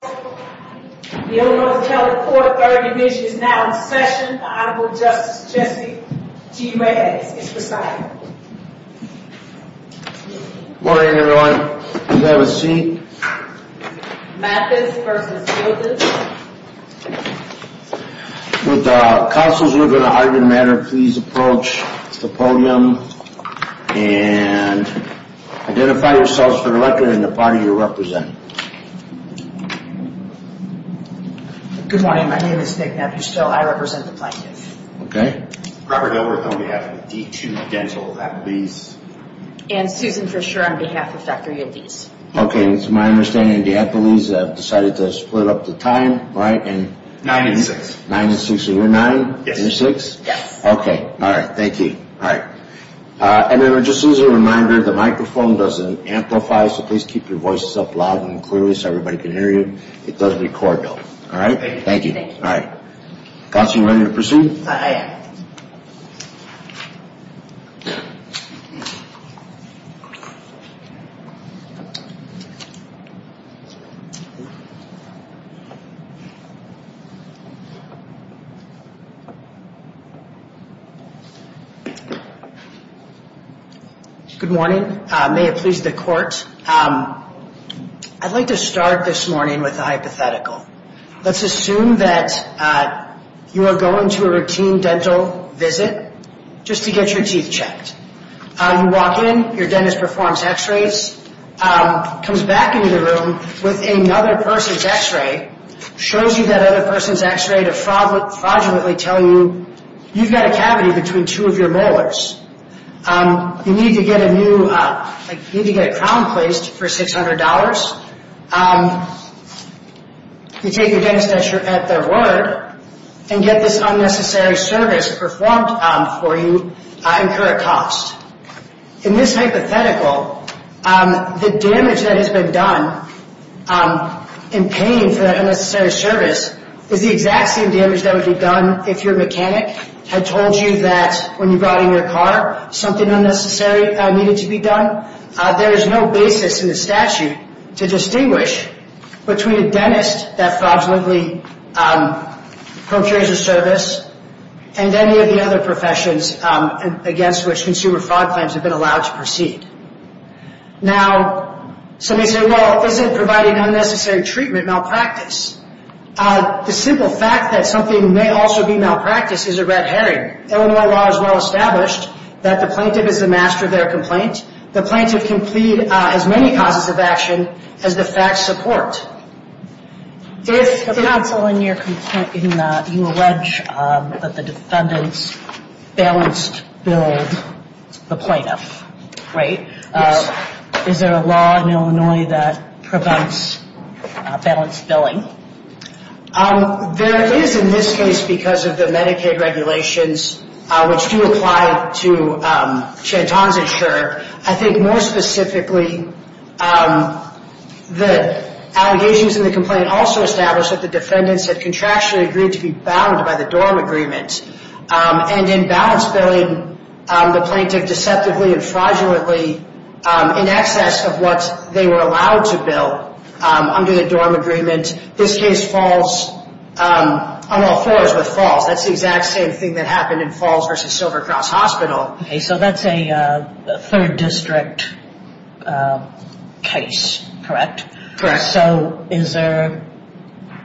The Illinois Telecourt Third Division is now in session. The Honorable Justice Jesse G. Reyes is presiding. Good morning everyone. Please have a seat. Mathis v. Yildiz Would the counsels who are going to argue the matter please approach the podium and identify yourselves for the record and the party you represent. Good morning. My name is Nick Mathis. I represent the plaintiff. Robert Gilbert on behalf of the D2 Dental of Yildiz. And Susan Fisher on behalf of Dr. Yildiz. Okay. To my understanding the Yildiz have decided to split up the time. Nine and six. Nine and six. So you're nine and you're six? Yes. Okay. Thank you. All right. And then just as a reminder the microphone doesn't amplify so please keep your voices up loud and clear so everybody can hear you. It doesn't record though. All right. Thank you. Thank you. All right. Counsel you ready to proceed? I am. Good morning. May it please the court. I'd like to start this morning with a hypothetical. Let's assume that you are going to a routine dental visit just to get your teeth checked. You walk in, your dentist performs x-rays, comes back into the room with another person's x-ray, shows you that other person's x-ray to fraudulently tell you you've got a cavity between two of your molars. You need to get a crown placed for $600. You take your dentist at their word and get this unnecessary service performed for you incur a cost. In this hypothetical the damage that has been done in paying for that unnecessary service is the exact same damage that would be done if your mechanic had told you that when you brought in your car something unnecessary needed to be done. There is no basis in the statute to distinguish between a dentist that fraudulently procures a service and any of the other professions against which consumer fraud claims have been allowed to proceed. Now, some may say, well, isn't providing unnecessary treatment malpractice? The simple fact that something may also be malpractice is a red herring. Illinois law is well established that the plaintiff is the master of their complaint. The plaintiff can plead as many causes of action as the facts support. If the counsel in your complaint, you allege that the defendants balanced billed the plaintiff, right? Is there a law in Illinois that prevents balanced billing? There is in this case because of the Medicaid regulations which do apply to Chanton's insurer. I think more specifically the allegations in the complaint also establish that the defendants had contractually agreed to be bound by the dorm agreement. And in balanced billing the plaintiff deceptively and fraudulently in excess of what they were allowed to bill under the dorm agreement. This case falls on all fours with false. That's the exact same thing that happened in Falls versus Silver Cross Hospital. So that's a third district case, correct? Correct. So is there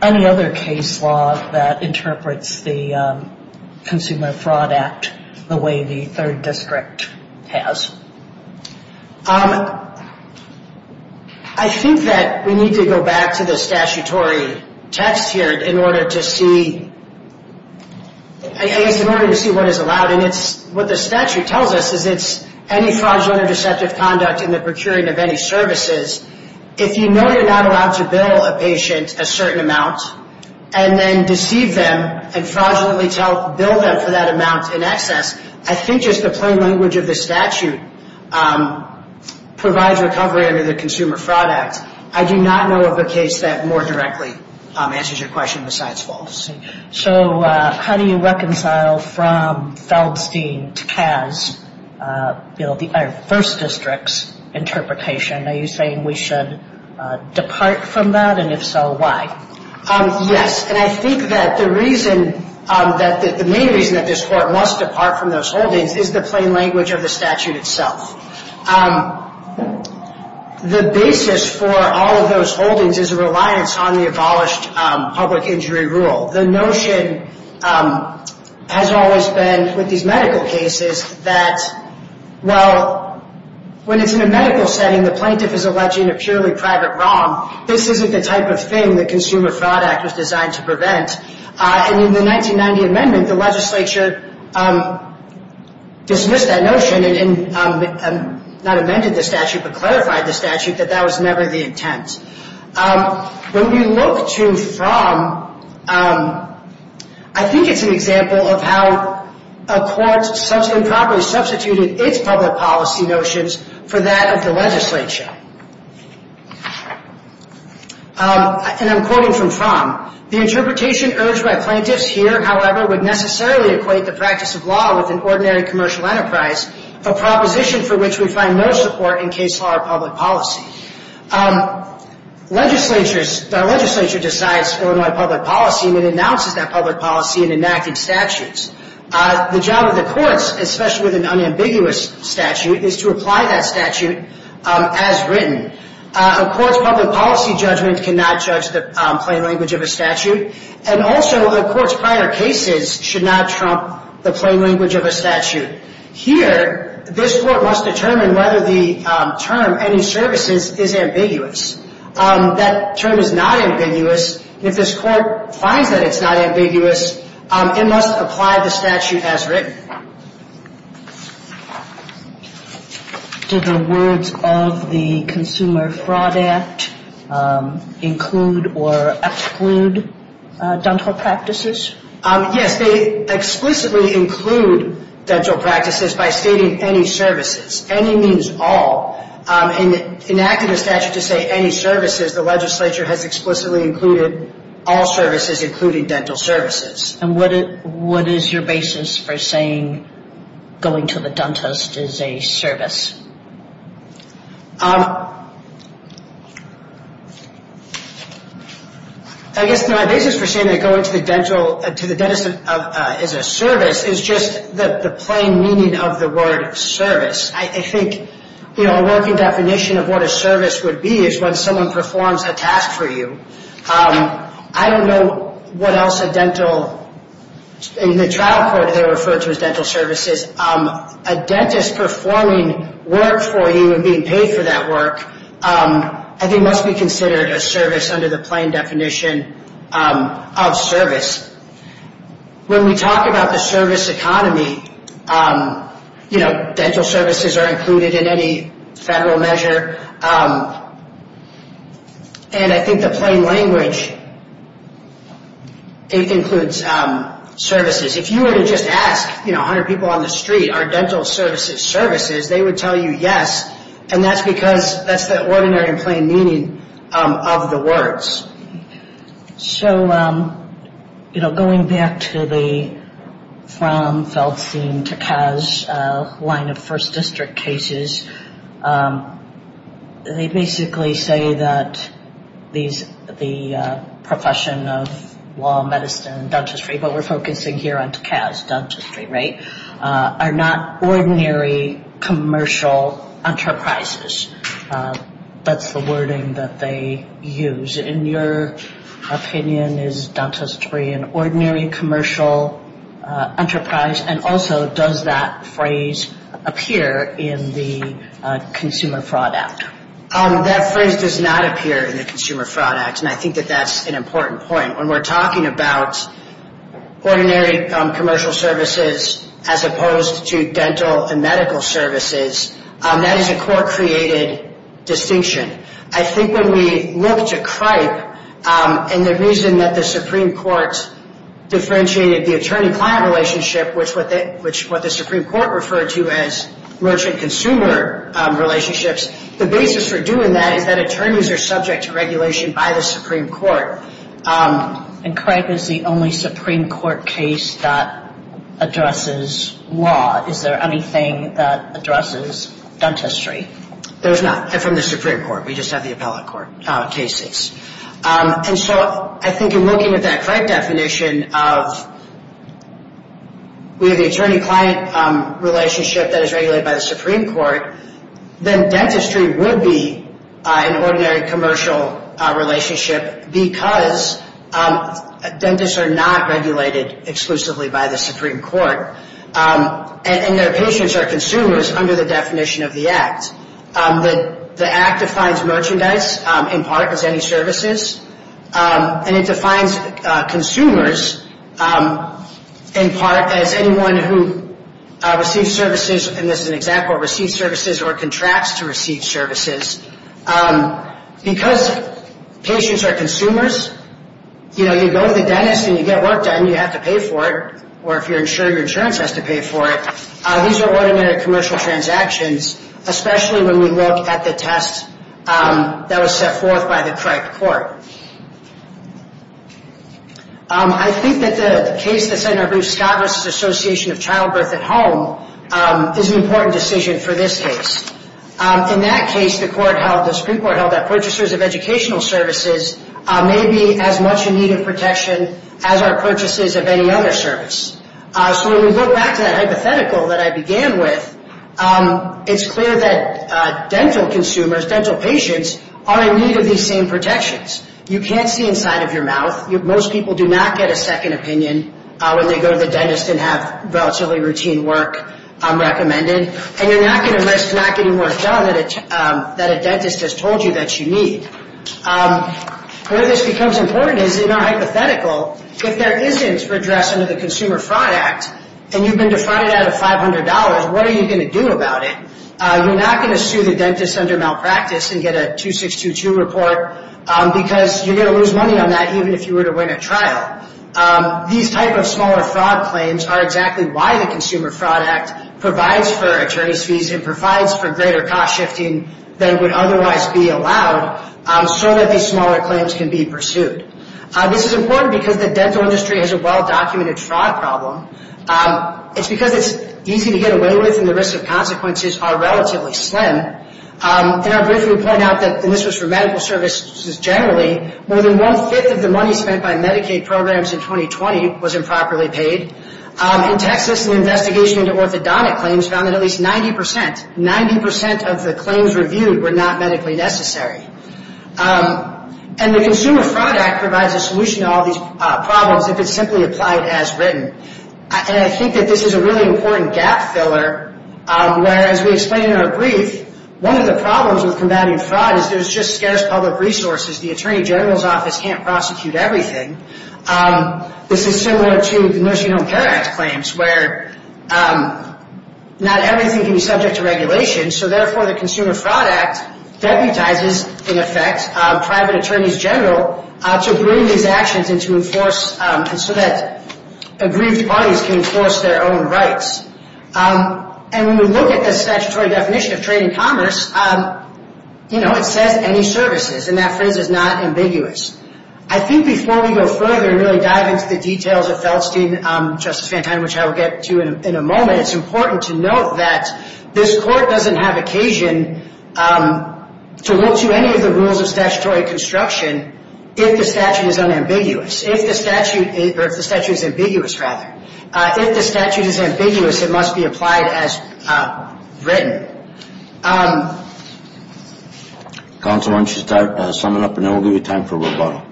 any other case law that interprets the Consumer Fraud Act the way the third district has? I think that we need to go back to the statutory text here in order to see what is allowed. And what the statute tells us is it's any fraudulent or deceptive conduct in the procuring of any services. If you know you're not allowed to bill a patient a certain amount and then deceive them and fraudulently bill them for that amount in excess, I think just the plain language of the statute provides recovery under the Consumer Fraud Act. I do not know of a case that more directly answers your question besides false. So how do you reconcile from Feldstein to Kaz, the first district's interpretation? Are you saying we should depart from that? And if so, why? Yes. And I think that the main reason that this Court must depart from those holdings is the plain language of the statute itself. The basis for all of those holdings is a reliance on the abolished public injury rule. The notion has always been with these medical cases that, well, when it's in a medical setting, the plaintiff is alleging a purely private wrong. This isn't the type of thing the Consumer Fraud Act was designed to prevent. And in the 1990 amendment, the legislature dismissed that notion and not amended the statute but clarified the statute that that was never the intent. And I think it's a good example of how a court improperly substituted its public policy notions for that of the legislature. And I'm quoting from Fromm. The interpretation urged by plaintiffs here, however, would necessarily equate the practice of law with an ordinary commercial enterprise, a proposition for which we find no support in case law or public policy. Our legislature decides Illinois public policy and it announces that public policy in enacted statutes. The job of the courts, especially with an unambiguous statute, is to apply that statute as written. A court's public policy judgment cannot judge the plain language of a statute. And also, a court's prior cases should not trump the plain language of a statute. However, this Court must determine whether the term, any services, is ambiguous. That term is not ambiguous. If this Court finds that it's not ambiguous, it must apply the statute as written. Do the words of the Consumer Fraud Act include or exclude dental practices? Yes, they explicitly include dental practices by stating any services. Any means all. In enacting the statute to say any services, the legislature has explicitly included all services, including dental services. And what is your basis for saying going to the dentist is a service? I guess my basis for saying that going to the dentist is a service is just the plain meaning of the word service. I think, you know, a working definition of what a service would be is when someone performs a task for you. I don't know what else a dental, in the trial court they refer to as dental services, a dentist performing work for you and being paid for that work, I think must be considered a service under the plain definition of service. When we talk about the service economy, you know, dental services are included in any federal measure. And I think the plain language includes services. If you were to just ask, you know, 100 people on the street, are dental services services, they would tell you yes. And that's because that's the ordinary and plain meaning of the words. So, you know, going back to the from Feldstein to Kaz line of first district cases, they basically say that the profession of law, medicine and dentistry, but we're focusing here on Kaz dentistry, right, are not ordinary commercial enterprises. That's the wording that they use. In your opinion, is dentistry an ordinary commercial enterprise and also does that phrase appear in the Consumer Fraud Act? That phrase does not appear in the Consumer Fraud Act. Ordinary commercial services as opposed to dental and medical services, that is a court-created distinction. I think when we look to CRIPE and the reason that the Supreme Court differentiated the attorney-client relationship, which what the Supreme Court referred to as merchant-consumer relationships, the basis for doing that is that attorneys are subject to regulation by the Supreme Court. And CRIPE is the only Supreme Court case that addresses law. Is there anything that addresses dentistry? There's not. They're from the Supreme Court. We just have the appellate court cases. And so I think in looking at that CRIPE definition of we have the attorney-client relationship that is regulated by the Supreme Court, then dentistry would be an ordinary commercial relationship because dentists are not regulated exclusively by the Supreme Court. And their patients are consumers under the definition of the Act. The Act defines merchandise in part as any services, and it defines consumers in part as anyone who receives services, and this is an example, receives services or contracts to receive services. Because patients are consumers, you know, you go to the dentist and you get work done, you have to pay for it, or if you're insured, your insurance has to pay for it. These are ordinary commercial transactions, especially when we look at the test that was set forth by the CRIPE court. I think that the case that Senator Bruce Scott versus the Association of Childbirth at Home is an important decision for this case. In that case, the Supreme Court held that purchasers of educational services may be as much in need of protection as our purchases of any other service. So when we go back to that hypothetical that I began with, it's clear that dental consumers, dental patients, are in need of these same protections. You can't see inside of your mouth. Most people do not get a second opinion when they go to the dentist and have relatively routine work recommended, and you're not going to risk not getting work done that a dentist has told you that you need. Where this becomes important is in our hypothetical, if there isn't redress under the Consumer Fraud Act, and you've been defrauded out of $500, what are you going to do about it? You're not going to sue the dentist under malpractice and get a 2622 report, because you're going to lose money on that even if you were to win a trial. These type of smaller fraud claims are exactly why the Consumer Fraud Act provides for attorney's fees and provides for greater cost shifting than would otherwise be allowed so that these smaller claims can be pursued. This is important because the dental industry has a well-documented fraud problem. It's because it's easy to get away with and the risks and consequences are relatively slim. In our brief, we point out that, and this was for medical services generally, more than one-fifth of the money spent by Medicaid programs in 2020 was improperly paid. In Texas, an investigation into orthodontic claims found that at least 90%, 90% of the claims reviewed were not medically necessary. And the Consumer Fraud Act provides a solution to all these problems if it's simply applied as written. And I think that this is a really important gap filler, whereas we explain in our brief, one of the problems with combating fraud is there's just scarce public resources. The Attorney General's Office can't prosecute everything. This is similar to the Nursing Home Care Act claims, where not everything can be subject to regulation. So therefore, the Consumer Fraud Act deputizes, in effect, private attorneys general to bring these actions into force so that aggrieved parties can enforce their own rights. And when we look at the statutory definition of trade and commerce, you know, it says any services. And that phrase is not ambiguous. I think before we go further and really dive into the details of Feldstein, Justice Fantano, which I will get to in a moment, it's important to note that this Court doesn't have occasion to look to any of the rules of statutory construction if the statute is unambiguous, or if the statute is ambiguous, rather. If the statute is ambiguous, it must be applied as written. Counsel, why don't you start summing up, and then we'll give you time for rebuttal.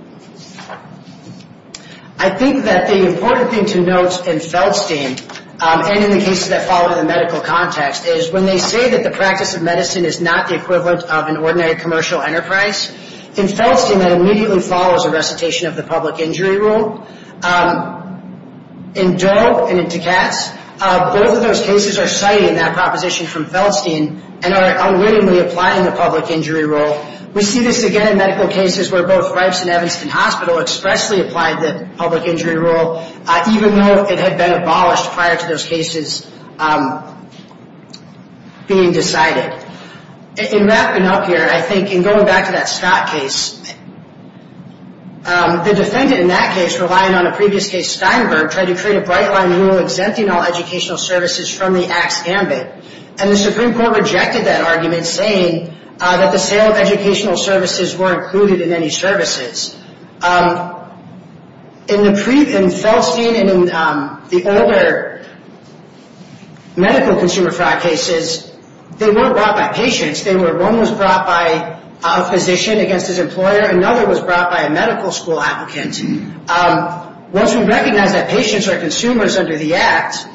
I think that the important thing to note in Feldstein, and in the cases that follow the medical context, is when they say that the practice of medicine is not the equivalent of an ordinary commercial enterprise, in Feldstein that immediately follows a recitation of the public injury rule. In Doe and in Dukas, both of those cases are citing that proposition from Feldstein and are unwittingly applying the public injury rule. We see this again in medical cases where both Ripes and Evanston Hospital expressly applied the public injury rule, even though it had been abolished prior to those cases being decided. In wrapping up here, I think, and going back to that Scott case, the defendant in that case, relying on a previous case, Steinberg, tried to create a bright-line rule exempting all educational services from the Axe Gambit, and the Supreme Court rejected that argument, saying that the sale of educational services were included in any services. In Feldstein and in the older medical consumer fraud cases, they weren't brought by patients. One was brought by a physician against his employer, another was brought by a medical school applicant. Once we recognize that patients are consumers under the Act,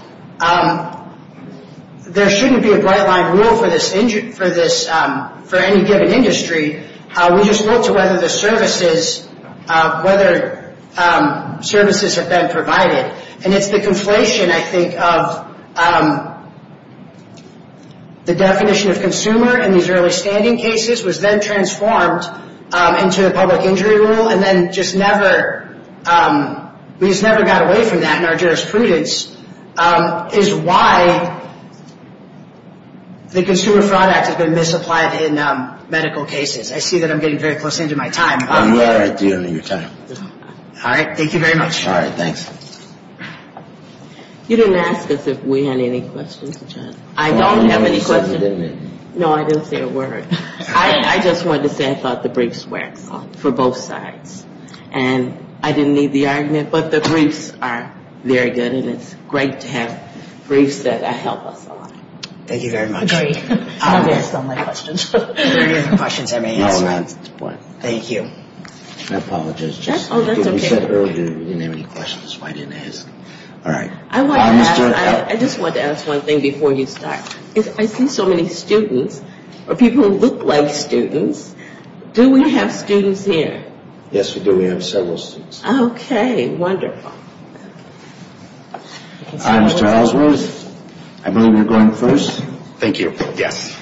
there shouldn't be a bright-line rule for any given industry. We just look to whether the services, whether services have been provided. And it's the conflation, I think, of the definition of consumer in these early-standing cases was then transformed into the public injury rule, and then just never, we just never got away from that in our jurisprudence, is why the Consumer Fraud Act has been misapplied in medical cases. I see that I'm getting very close into my time. I'm glad I'm dealing with your time. All right. Thank you very much. All right. Thanks. You didn't ask us if we had any questions, John. I don't have any questions. No, I didn't say a word. I just wanted to say I thought the briefs worked for both sides, and I didn't need the argument, but the briefs are very good, and it's great to have briefs that help us a lot. Thank you very much. Agreed. I don't have so many questions. You don't have any questions? No, not at this point. Thank you. I apologize. That's okay. We said earlier we didn't have any questions, so I didn't ask. All right. I just wanted to ask one thing before you start. I see so many students, or people who look like students. Do we have students here? Yes, we do. We have several students. Okay. Wonderful. Hi, Mr. Ellsworth. I believe you're going first. Thank you. Yes.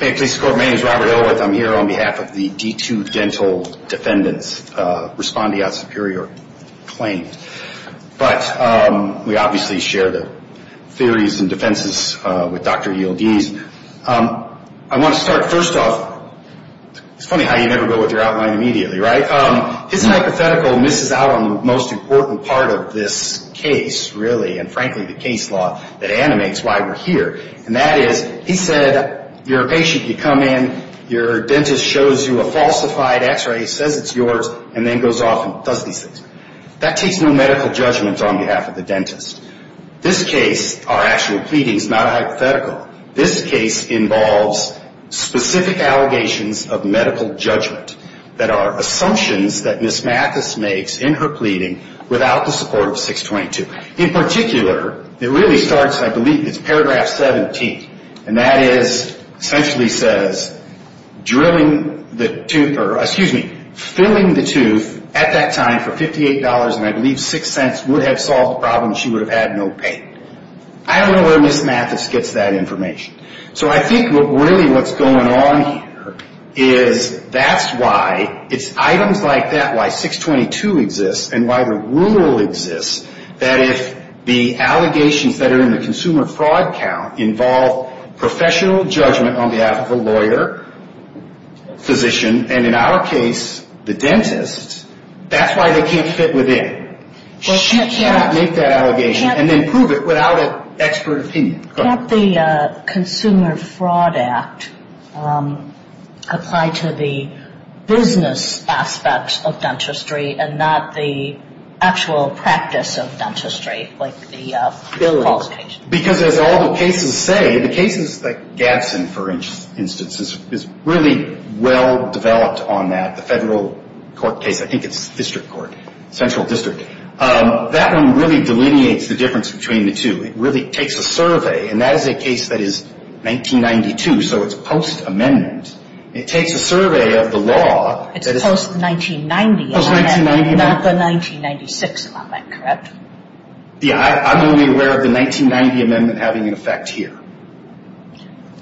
May it please the Court, my name is Robert Ellsworth. I'm here on behalf of the D2 Dental Defendants, responding on superior claims. But we obviously share the theories and defenses with Dr. Yield-Yees. I want to start first off. It's funny how you never go with your outline immediately, right? His hypothetical misses out on the most important part of this case, really, and frankly the case law that animates why we're here. And that is, he said, you're a patient. You come in, your dentist shows you a falsified X-ray, says it's yours, and then goes off and does these things. That takes no medical judgment on behalf of the dentist. This case, our actual pleadings, not a hypothetical. This case involves specific allegations of medical judgment that are assumptions that Ms. Mathis makes in her pleading without the support of 622. In particular, it really starts, I believe, it's paragraph 17. And that is, essentially says, drilling the tooth, or excuse me, filling the tooth at that time for $58, and I believe six cents would have solved the problem and she would have had no pain. I don't know where Ms. Mathis gets that information. So I think really what's going on here is that's why it's items like that, why 622 exists, and why the rule exists, that if the allegations that are in the consumer fraud count involve professional judgment on behalf of a lawyer, physician, and in our case, the dentist, that's why they can't fit within. She cannot make that allegation and then prove it without an expert opinion. Go ahead. Can't the Consumer Fraud Act apply to the business aspects of dentistry and not the actual practice of dentistry, like the qualifications? Because as all the cases say, the cases like Gadsden, for instance, is really well developed on that, the federal court case. I think it's district court, central district. That one really delineates the difference between the two. It really takes a survey, and that is a case that is 1992, so it's post-amendment. It takes a survey of the law. It's post-1990 amendment, not the 1996 amendment, correct? Yeah. I'm only aware of the 1990 amendment having an effect here.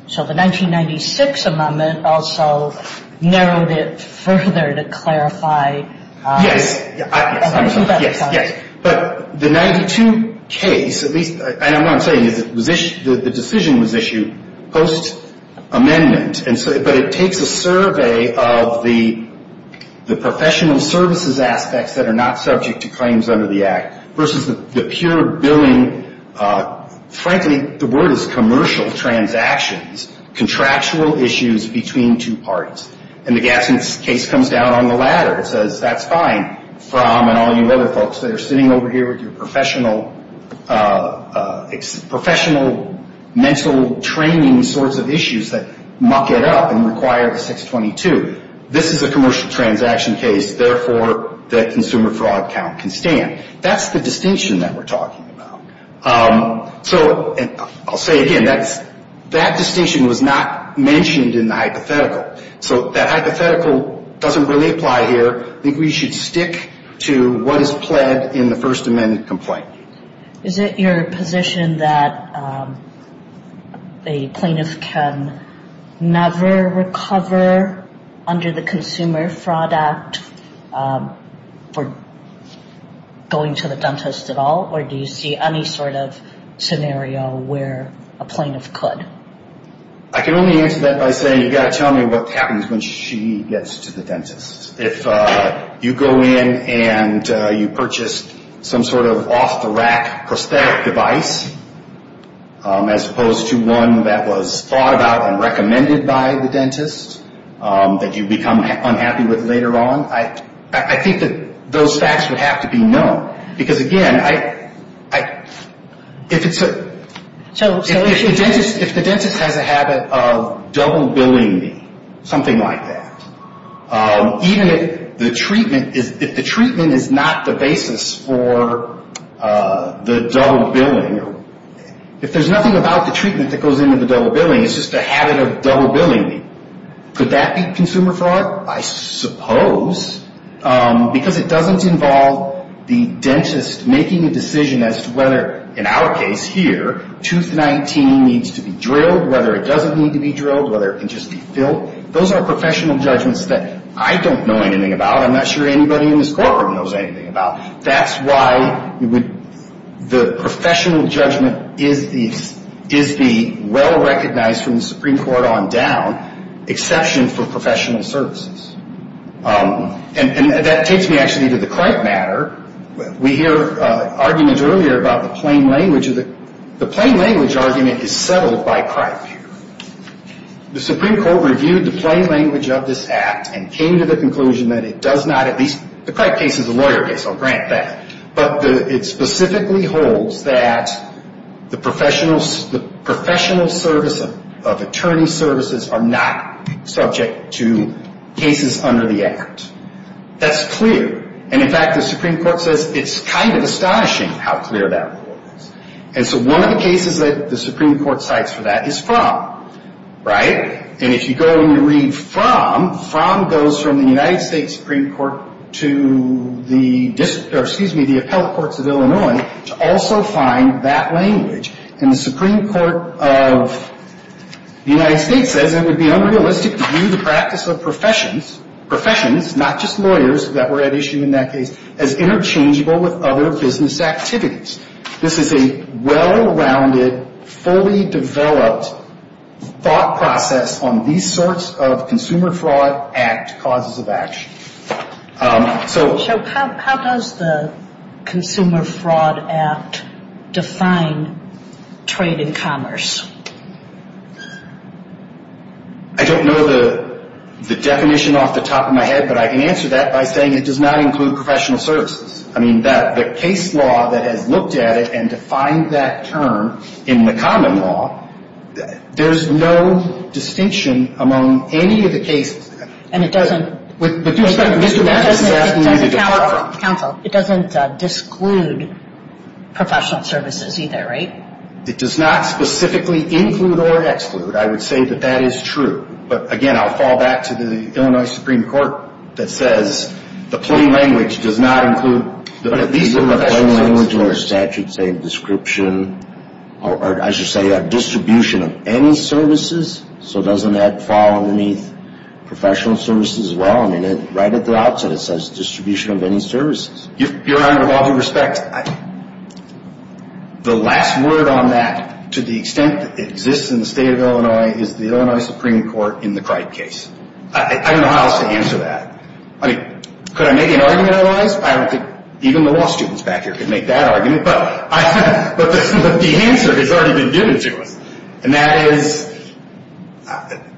So the 1996 amendment also narrowed it further to clarify. Yes. Yes. But the 92 case, at least, and what I'm saying is the decision was issued post-amendment, but it takes a survey of the professional services aspects that are not subject to claims under the act versus the pure billing, frankly, the word is commercial transactions, contractual issues between two parties. And the Gadsden case comes down on the ladder. It says that's fine from and all you other folks that are sitting over here with your professional, professional mental training sorts of issues that muck it up and require the 622. This is a commercial transaction case. Therefore, the consumer fraud count can stand. That's the distinction that we're talking about. So I'll say again, that distinction was not mentioned in the hypothetical. So that hypothetical doesn't really apply here. I think we should stick to what is pled in the first amendment complaint. Is it your position that a plaintiff can never recover under the Consumer Fraud Act for going to the dentist at all, or do you see any sort of scenario where a plaintiff could? I can only answer that by saying you've got to tell me what happens when she gets to the dentist. If you go in and you purchase some sort of off-the-rack prosthetic device, as opposed to one that was thought about and recommended by the dentist that you become unhappy with later on, I think that those facts would have to be known. Because, again, if the dentist has a habit of double billing me, something like that, even if the treatment is not the basis for the double billing, if there's nothing about the treatment that goes into the double billing, it's just a habit of double billing me, could that be consumer fraud? I suppose. Because it doesn't involve the dentist making a decision as to whether, in our case here, tooth 19 needs to be drilled, whether it doesn't need to be drilled, whether it can just be filled. Those are professional judgments that I don't know anything about. I'm not sure anybody in this courtroom knows anything about. That's why the professional judgment is the well-recognized, from the Supreme Court on down, exception for professional services. And that takes me, actually, to the Cripe matter. We hear arguments earlier about the plain language. The plain language argument is settled by Cripe. The Supreme Court reviewed the plain language of this act and came to the conclusion that it does not, at least the Cripe case is a lawyer case, I'll grant that, but it specifically holds that the professional service of attorney services are not subject to cases under the act. That's clear. And, in fact, the Supreme Court says it's kind of astonishing how clear that rule is. And so one of the cases that the Supreme Court cites for that is Fromm, right? And if you go and you read Fromm, Fromm goes from the United States Supreme Court to the district or, excuse me, the appellate courts of Illinois to also find that language. And the Supreme Court of the United States says it would be unrealistic to view the practice of professions, professions, not just lawyers that were at issue in that case, as interchangeable with other business activities. This is a well-rounded, fully developed thought process on these sorts of Consumer Fraud Act causes of action. So how does the Consumer Fraud Act define trade and commerce? I don't know the definition off the top of my head, but I can answer that by saying it does not include professional services. I mean, the case law that has looked at it and defined that term in the common law, there's no distinction among any of the cases. And it doesn't? Mr. Mathis is asking you to defer. Counsel, it doesn't disclude professional services either, right? It does not specifically include or exclude. I would say that that is true. But, again, I'll fall back to the Illinois Supreme Court that says the plain language does not include these sort of professional services. The plain language in our statute saying description, or I should say distribution of any services, so doesn't that fall underneath professional services as well? I mean, right at the outset it says distribution of any services. Your Honor, with all due respect, the last word on that, to the extent that it exists in the State of Illinois, is the Illinois Supreme Court in the Cripe case. I don't know how else to answer that. I mean, could I make an argument otherwise? I don't think even the law students back here could make that argument. But the answer has already been given to us, and that is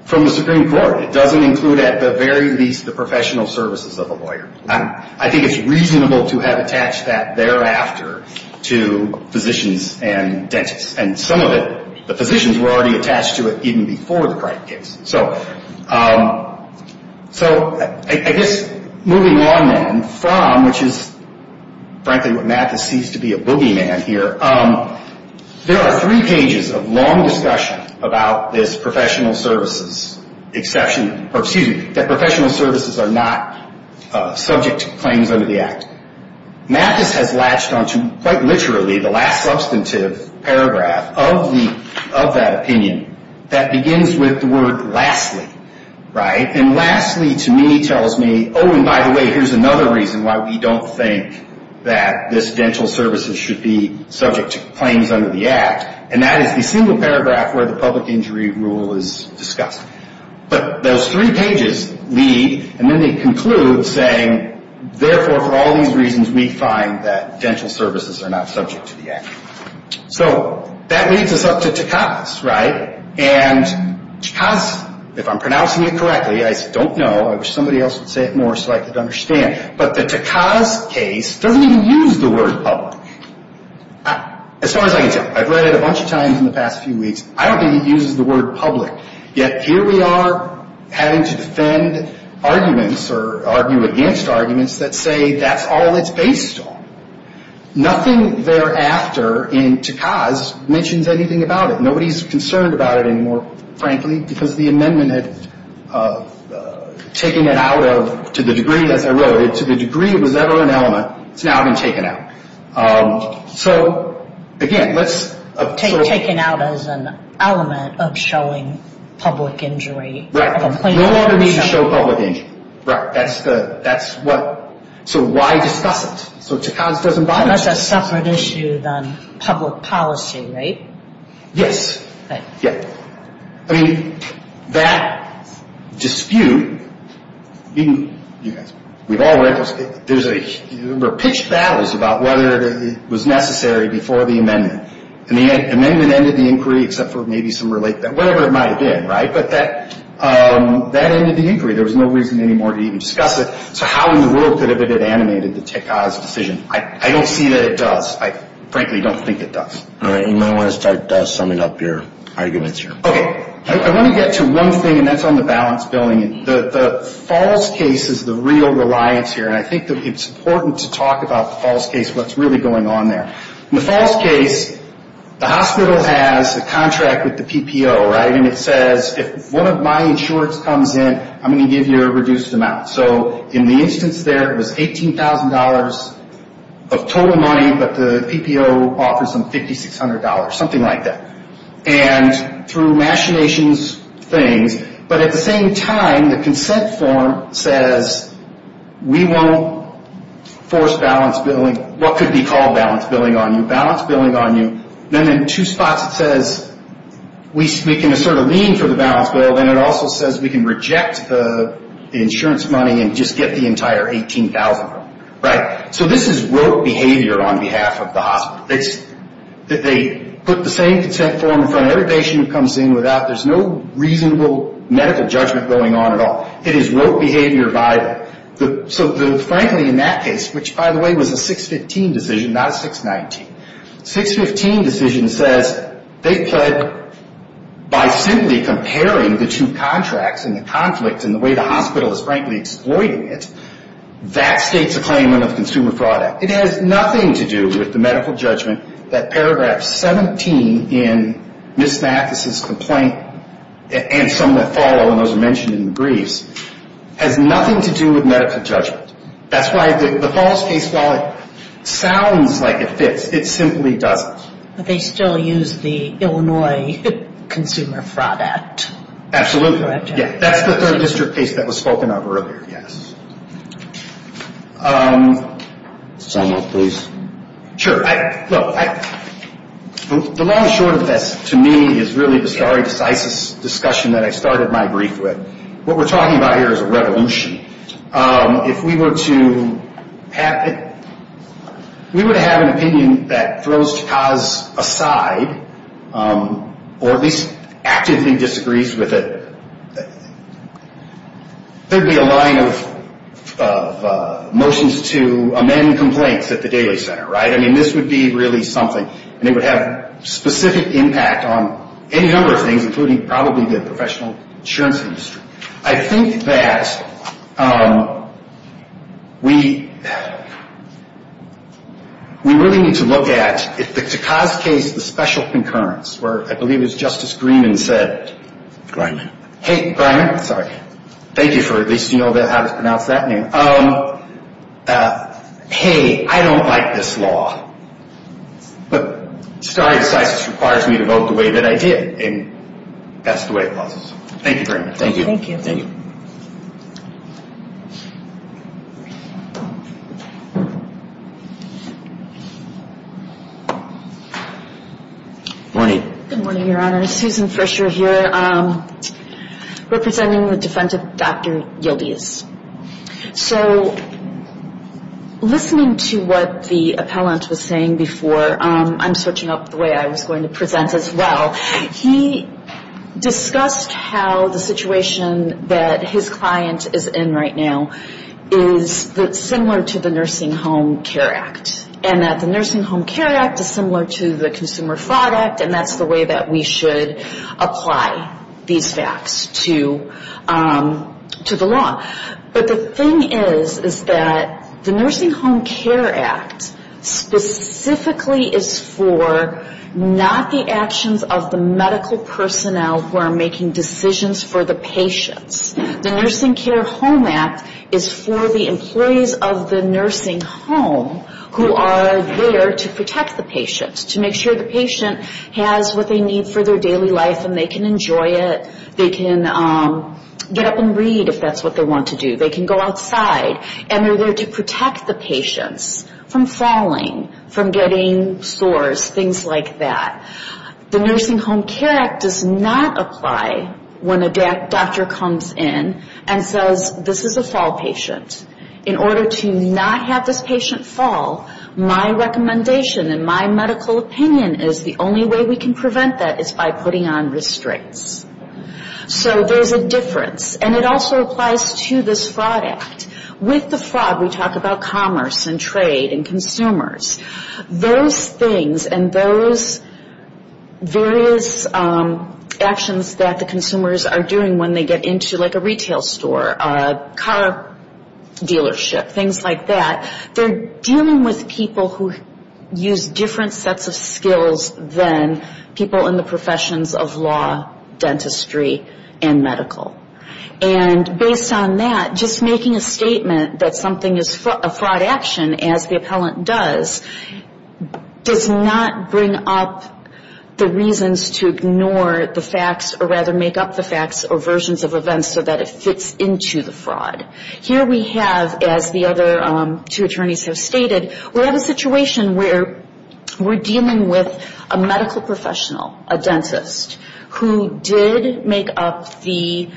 from the Supreme Court. It doesn't include at the very least the professional services of a lawyer. I think it's reasonable to have attached that thereafter to physicians and dentists. And some of it, the physicians were already attached to it even before the Cripe case. So I guess moving on then from, which is frankly what Mathis sees to be a boogeyman here, there are three pages of long discussion about this professional services exception, or excuse me, that professional services are not subject to claims under the Act. Mathis has latched on to, quite literally, the last substantive paragraph of that opinion that begins with the word, lastly. And lastly, to me, tells me, oh, and by the way, here's another reason why we don't think that this dental services should be subject to claims under the Act. And that is the single paragraph where the public injury rule is discussed. But those three pages lead, and then they conclude, saying, therefore, for all these reasons, we find that dental services are not subject to the Act. So that leads us up to Tekaz, right? And Tekaz, if I'm pronouncing it correctly, I don't know. I wish somebody else would say it more so I could understand. But the Tekaz case doesn't even use the word public. As far as I can tell. I've read it a bunch of times in the past few weeks. I don't think it uses the word public. Yet here we are having to defend arguments or argue against arguments that say that's all it's based on. Nothing thereafter in Tekaz mentions anything about it. Nobody's concerned about it anymore, frankly, because the amendment had taken it out of, to the degree, as I wrote it, to the degree it was ever an element. It's now been taken out. So, again, let's sort of... Taken out as an element of showing public injury. Right. No longer needs to show public injury. Right. That's the, that's what, so why discuss it? So Tekaz doesn't bother with it. Unless it's a separate issue than public policy, right? Yes. Right. Yeah. I mean, that dispute, even, you guys, we've all read those, there's a, there were pitched battles about whether it was necessary before the amendment. And the amendment ended the inquiry, except for maybe some related, whatever it might have been, right? But that, that ended the inquiry. There was no reason anymore to even discuss it. So how in the world could it have been animated, the Tekaz decision? I don't see that it does. I frankly don't think it does. All right. You might want to start summing up your arguments here. Okay. I want to get to one thing, and that's on the balance billing. The false case is the real reliance here. And I think that it's important to talk about the false case, what's really going on there. In the false case, the hospital has a contract with the PPO, right? And it says, if one of my insurance comes in, I'm going to give you a reduced amount. So in the instance there, it was $18,000 of total money, but the PPO offers them $5,600, something like that. And through machinations things, but at the same time, the consent form says, we won't force balance billing, what could be called balance billing on you, balance billing on you. Then in two spots it says, we can assert a lien for the balance bill. Then it also says we can reject the insurance money and just get the entire $18,000. Right? So this is rote behavior on behalf of the hospital. They put the same consent form in front of every patient who comes in without, there's no reasonable medical judgment going on at all. It is rote behavior by the, so frankly in that case, which by the way was a 615 decision, not a 619. 615 decision says they pled by simply comparing the two contracts and the conflict and the way the hospital is frankly exploiting it, that states a claimant of consumer fraud act. It has nothing to do with the medical judgment that paragraph 17 in Ms. Mathis' complaint and some that follow, and those are mentioned in the briefs, has nothing to do with medical judgment. That's why the false case, while it sounds like it fits, it simply doesn't. But they still use the Illinois Consumer Fraud Act. Absolutely. That's the third district case that was spoken of earlier. Yes. Sum up please. Sure. The long and short of this to me is really the stare decisis discussion that I started my brief with. What we're talking about here is a revolution. If we were to have, we would have an opinion that throws cause aside, or at least actively disagrees with it. There would be a line of motions to amend complaints at the daily center, right? I mean this would be really something, and it would have specific impact on any number of things, including probably the professional insurance industry. I think that we really need to look at, to cause case, the special concurrence, where I believe it was Justice Greeman said. Greiman. Hey, Greiman, sorry. Thank you for at least you know how to pronounce that name. Hey, I don't like this law, but stare decisis requires me to vote the way that I did, and that's the way it was. Thank you, Greiman. Thank you. Thank you. Thank you. Good morning. Good morning, Your Honor. Susan Frischer here, representing the Defendant, Dr. Yildiz. So listening to what the appellant was saying before, I'm switching up the way I was going to present as well. He discussed how the situation that his client is in right now is similar to the Nursing Home Care Act, and that the Nursing Home Care Act is similar to the Consumer Fraud Act, and that's the way that we should apply these facts to the law. But the thing is, is that the Nursing Home Care Act specifically is for not the actions of the medical personnel who are making decisions for the patients. The Nursing Care Home Act is for the employees of the nursing home who are there to protect the patient, to make sure the patient has what they need for their daily life and they can enjoy it, they can get up and read if that's what they want to do, they can go outside, and they're there to protect the patients from falling, from getting sores, things like that. The Nursing Home Care Act does not apply when a doctor comes in and says, this is a fall patient, in order to not have this patient fall, my recommendation and my medical opinion is the only way we can prevent that is by putting on restraints. So there's a difference. And it also applies to this Fraud Act. With the fraud, we talk about commerce and trade and consumers. Those things and those various actions that the consumers are doing when they get into like a retail store, a car dealership, things like that, they're dealing with people who use different sets of skills than people in the professions of law, dentistry, and medical. And based on that, just making a statement that something is a fraud action, as the appellant does, does not bring up the reasons to ignore the facts, or rather make up the facts or versions of events so that it fits into the fraud. Here we have, as the other two attorneys have stated, we have a situation where we're dealing with a medical professional, a dentist, who did make up the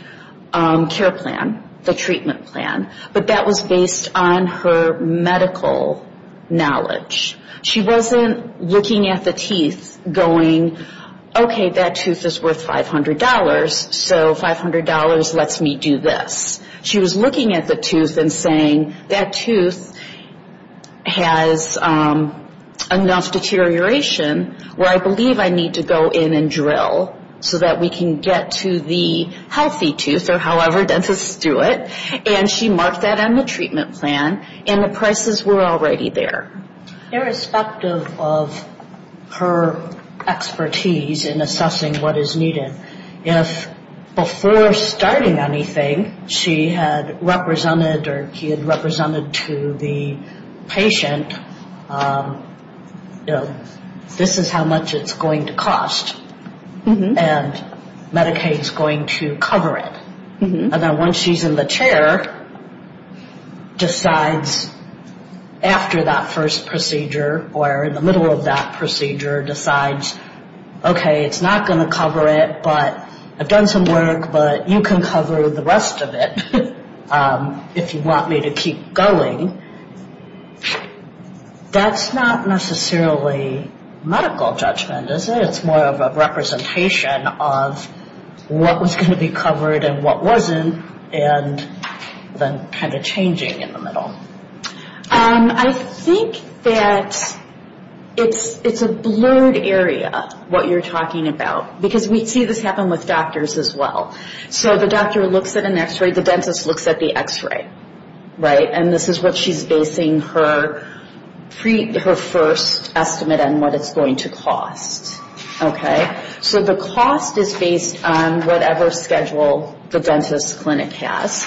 care plan, the treatment plan, but that was based on her medical knowledge. She wasn't looking at the teeth going, okay, that tooth is worth $500. So $500 lets me do this. She was looking at the tooth and saying, that tooth has enough deterioration where I believe I need to go in and drill so that we can get to the healthy tooth, or however dentists do it. And she marked that on the treatment plan, and the prices were already there. Irrespective of her expertise in assessing what is needed, if before starting anything she had represented or he had represented to the patient, this is how much it's going to cost, and Medicaid is going to cover it. And then once she's in the chair, decides after that first procedure or in the middle of that procedure, decides, okay, it's not going to cover it, but I've done some work, but you can cover the rest of it if you want me to keep going. That's not necessarily medical judgment, is it? It's more of a representation of what was going to be covered and what wasn't, and then kind of changing in the middle. I think that it's a blurred area, what you're talking about, because we see this happen with doctors as well. So the doctor looks at an x-ray, the dentist looks at the x-ray, right? And this is what she's basing her first estimate on, what it's going to cost, okay? So the cost is based on whatever schedule the dentist clinic has.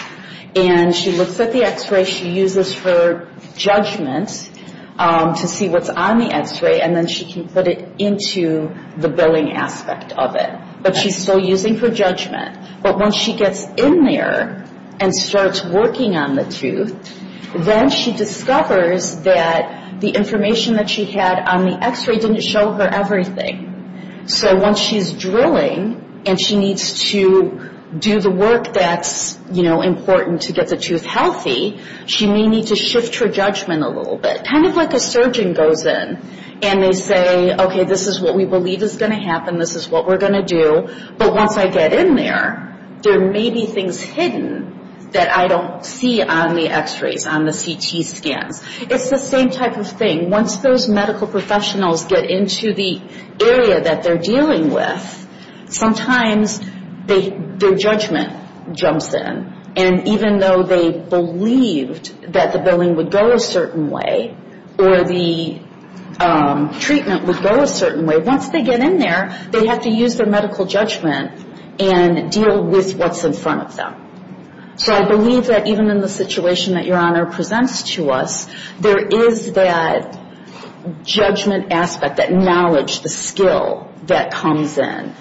And she looks at the x-ray, she uses her judgment to see what's on the x-ray, and then she can put it into the billing aspect of it. But she's still using her judgment. But once she gets in there and starts working on the tooth, then she discovers that the information that she had on the x-ray didn't show her everything. So once she's drilling and she needs to do the work that's important to get the tooth healthy, she may need to shift her judgment a little bit, kind of like a surgeon goes in, and they say, okay, this is what we believe is going to happen, this is what we're going to do. But once I get in there, there may be things hidden that I don't see on the x-rays, on the CT scans. It's the same type of thing. Once those medical professionals get into the area that they're dealing with, sometimes their judgment jumps in. And even though they believed that the billing would go a certain way or the treatment would go a certain way, once they get in there, they have to use their medical judgment and deal with what's in front of them. So I believe that even in the situation that Your Honor presents to us, there is that judgment aspect, that knowledge, the skill that comes in.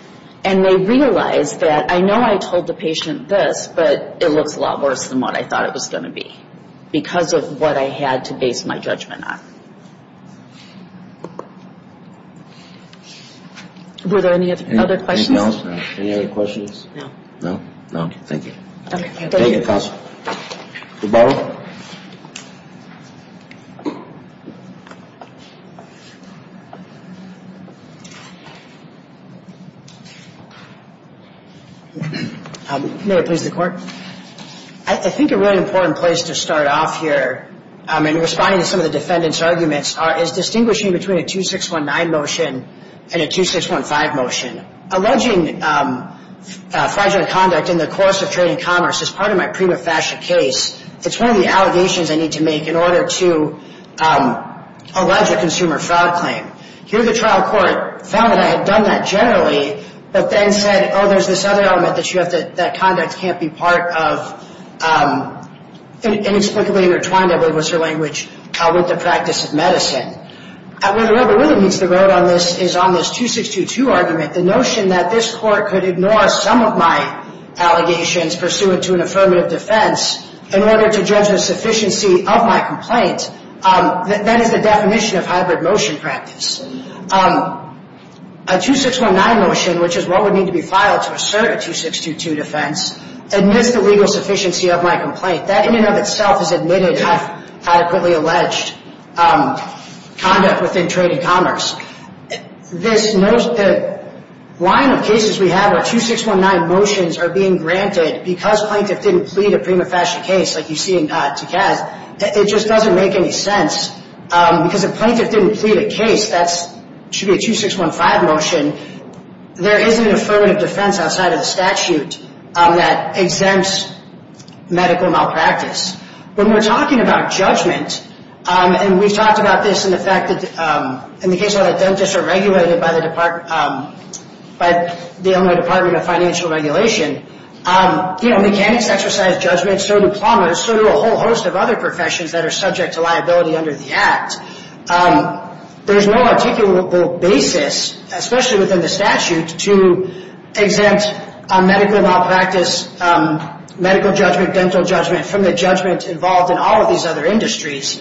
And they realize that I know I told the patient this, but it looks a lot worse than what I thought it was going to be because of what I had to base my judgment on. Were there any other questions? Anything else? No. Any other questions? No. No? No. Thank you. Okay. Thank you, counsel. Goodbye. May it please the Court. I think a really important place to start off here, in responding to some of the defendant's arguments, is distinguishing between a 2619 motion and a 2615 motion. Alleging fraudulent conduct in the course of trading commerce is part of my prima facie case. It's one of the allegations I need to make in order to allege a consumer fraud claim. Here the trial court found that I had done that generally, but then said, oh, there's this other element that conduct can't be part of, inexplicably intertwined, I believe was her language, with the practice of medicine. Where the rubber really meets the road on this is on this 2622 argument. The notion that this court could ignore some of my allegations pursuant to an affirmative defense in order to judge the sufficiency of my complaint, that is the definition of hybrid motion practice. A 2619 motion, which is what would need to be filed to assert a 2622 defense, admits the legal sufficiency of my complaint. That in and of itself is admitted, adequately alleged, conduct within trading commerce. The line of cases we have where 2619 motions are being granted because plaintiff didn't plead a prima facie case, like you see in Caz, it just doesn't make any sense. Because if plaintiff didn't plead a case, that should be a 2615 motion. There is an affirmative defense outside of the statute that exempts medical malpractice. When we're talking about judgment, and we've talked about this in the case where the dentists are regulated by the Illinois Department of Financial Regulation, mechanics exercise judgment, so do plumbers, so do a whole host of other professions that are subject to liability under the Act. There's no articulable basis, especially within the statute, to exempt medical malpractice, medical judgment, dental judgment, from the judgment involved in all of these other industries.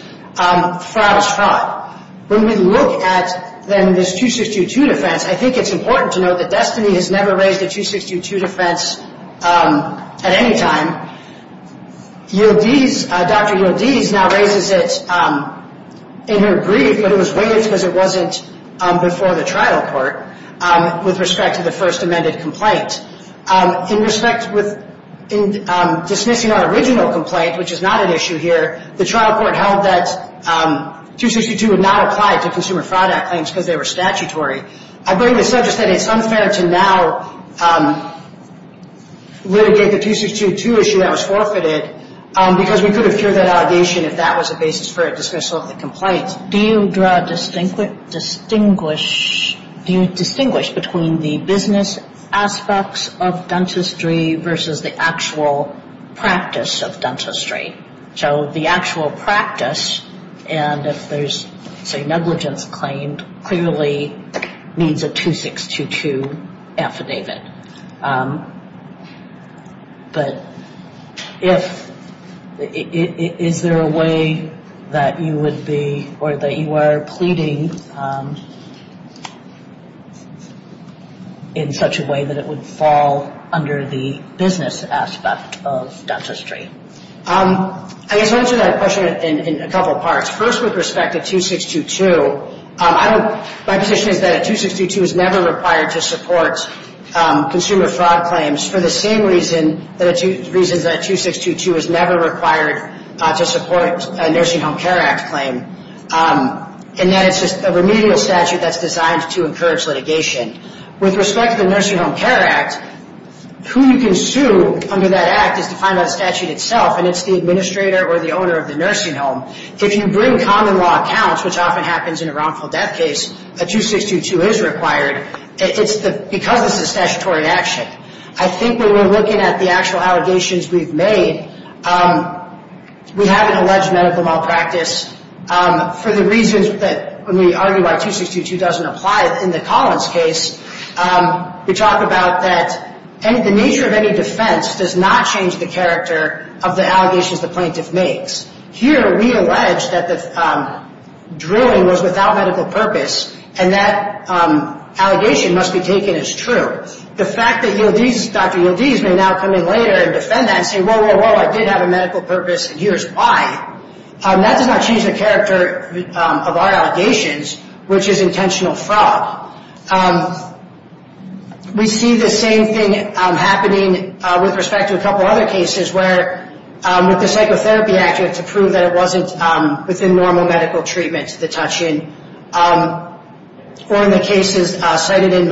When we look at then this 2622 defense, I think it's important to note that Destiny has never raised a 2622 defense at any time. ULDs, Dr. ULDs now raises it in her brief, but it was waived because it wasn't before the trial court with respect to the first amended complaint. In respect with dismissing our original complaint, which is not an issue here, the trial court held that 2622 would not apply to consumer fraud act claims because they were statutory. I bring this up just that it's unfair to now litigate the 2622 issue that was forfeited because we could have cured that allegation if that was a basis for a dismissal of the complaint. Do you draw a distinction, distinguish, do you distinguish between the business aspects of dentistry versus the actual practice of dentistry? So the actual practice, and if there's say negligence claimed, clearly needs a 2622 affidavit. But if, is there a way that you would be or that you are pleading in such a way that it would fall under the business aspect of dentistry? I guess I'll answer that question in a couple parts. First, with respect to 2622, my position is that a 2622 is never required to support consumer fraud claims for the same reasons that a 2622 is never required to support a Nursing Home Care Act claim, and that it's just a remedial statute that's designed to encourage litigation. With respect to the Nursing Home Care Act, who you can sue under that act is defined by the statute itself, and it's the administrator or the owner of the nursing home. If you bring common law accounts, which often happens in a wrongful death case, a 2622 is required because it's a statutory action. I think when we're looking at the actual allegations we've made, we have an alleged medical malpractice for the reasons that, when we argue why 2622 doesn't apply in the Collins case, we talk about that the nature of any defense does not change the character of the allegations the plaintiff makes. Here, we allege that the drilling was without medical purpose, and that allegation must be taken as true. The fact that Dr. Yildiz may now come in later and defend that and say, which is intentional fraud. We see the same thing happening with respect to a couple other cases where, with the psychotherapy act, you have to prove that it wasn't within normal medical treatment to touch in. Or in the cases cited in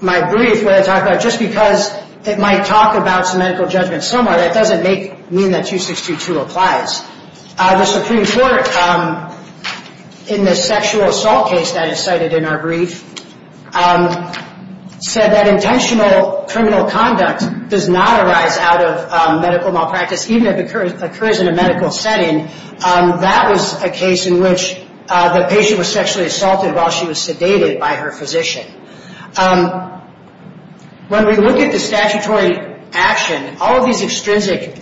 my brief, where I talk about just because it might talk about some medical judgment somewhere, that doesn't mean that 2622 applies. The Supreme Court, in the sexual assault case that is cited in our brief, said that intentional criminal conduct does not arise out of medical malpractice, even if it occurs in a medical setting. That was a case in which the patient was sexually assaulted while she was sedated by her physician. When we look at the statutory action, all of these extrinsic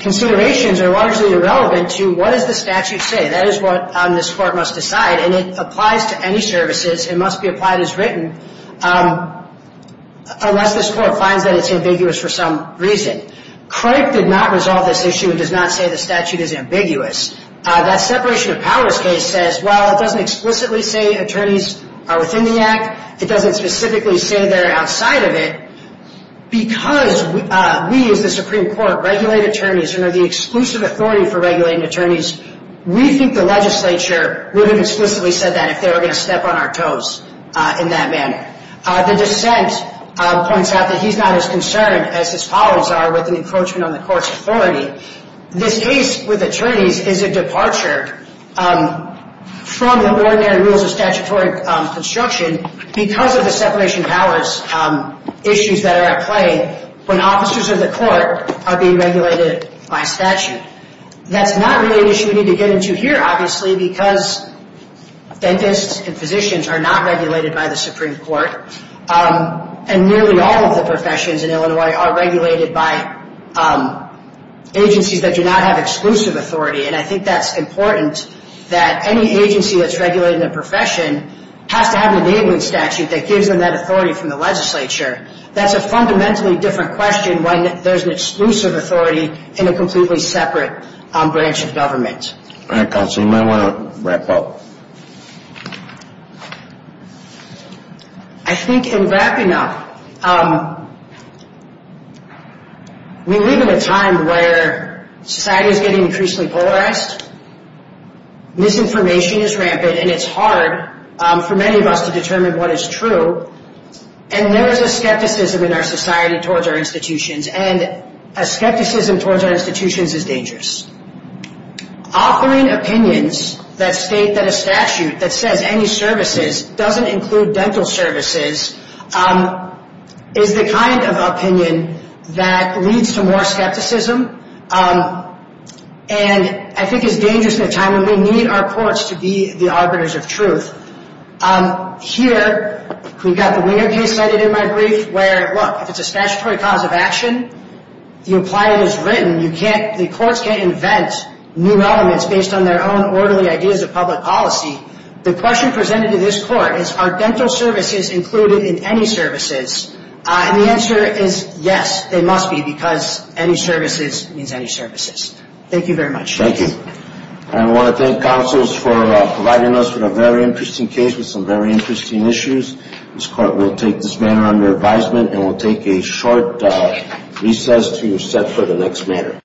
considerations are largely irrelevant to what does the statute say. That is what this court must decide, and it applies to any services. It must be applied as written, unless this court finds that it's ambiguous for some reason. Craig did not resolve this issue and does not say the statute is ambiguous. That separation of powers case says, well, it doesn't explicitly say attorneys are within the act. It doesn't specifically say they're outside of it. Because we, as the Supreme Court, regulate attorneys and are the exclusive authority for regulating attorneys, we think the legislature would have explicitly said that if they were going to step on our toes in that manner. The dissent points out that he's not as concerned as his followers are with an encroachment on the court's authority. This case with attorneys is a departure from the ordinary rules of statutory construction because of the separation of powers issues that are at play when officers of the court are being regulated by statute. That's not really an issue we need to get into here, obviously, because dentists and physicians are not regulated by the Supreme Court, and nearly all of the professions in Illinois are regulated by agencies that do not have exclusive authority. And I think that's important, that any agency that's regulating a profession has to have an enabling statute that gives them that authority from the legislature. That's a fundamentally different question when there's an exclusive authority in a completely separate branch of government. All right, Counselor, you might want to wrap up. I think in wrapping up, we live in a time where society is getting increasingly polarized, misinformation is rampant, and it's hard for many of us to determine what is true, and there is a skepticism in our society towards our institutions, and a skepticism towards our institutions is dangerous. Offering opinions that state that a statute that says any services doesn't include dental services is the kind of opinion that leads to more skepticism, and I think is dangerous in a time when we need our courts to be the arbiters of truth. Here, we've got the Winger case cited in my brief where, look, if it's a statutory cause of action, you apply it as written. The courts can't invent new elements based on their own orderly ideas of public policy. The question presented to this court is, are dental services included in any services? And the answer is, yes, they must be because any services means any services. Thank you very much. Thank you. I want to thank counsels for providing us with a very interesting case with some very interesting issues. This court will take this matter under advisement and will take a short recess to set for the next matter.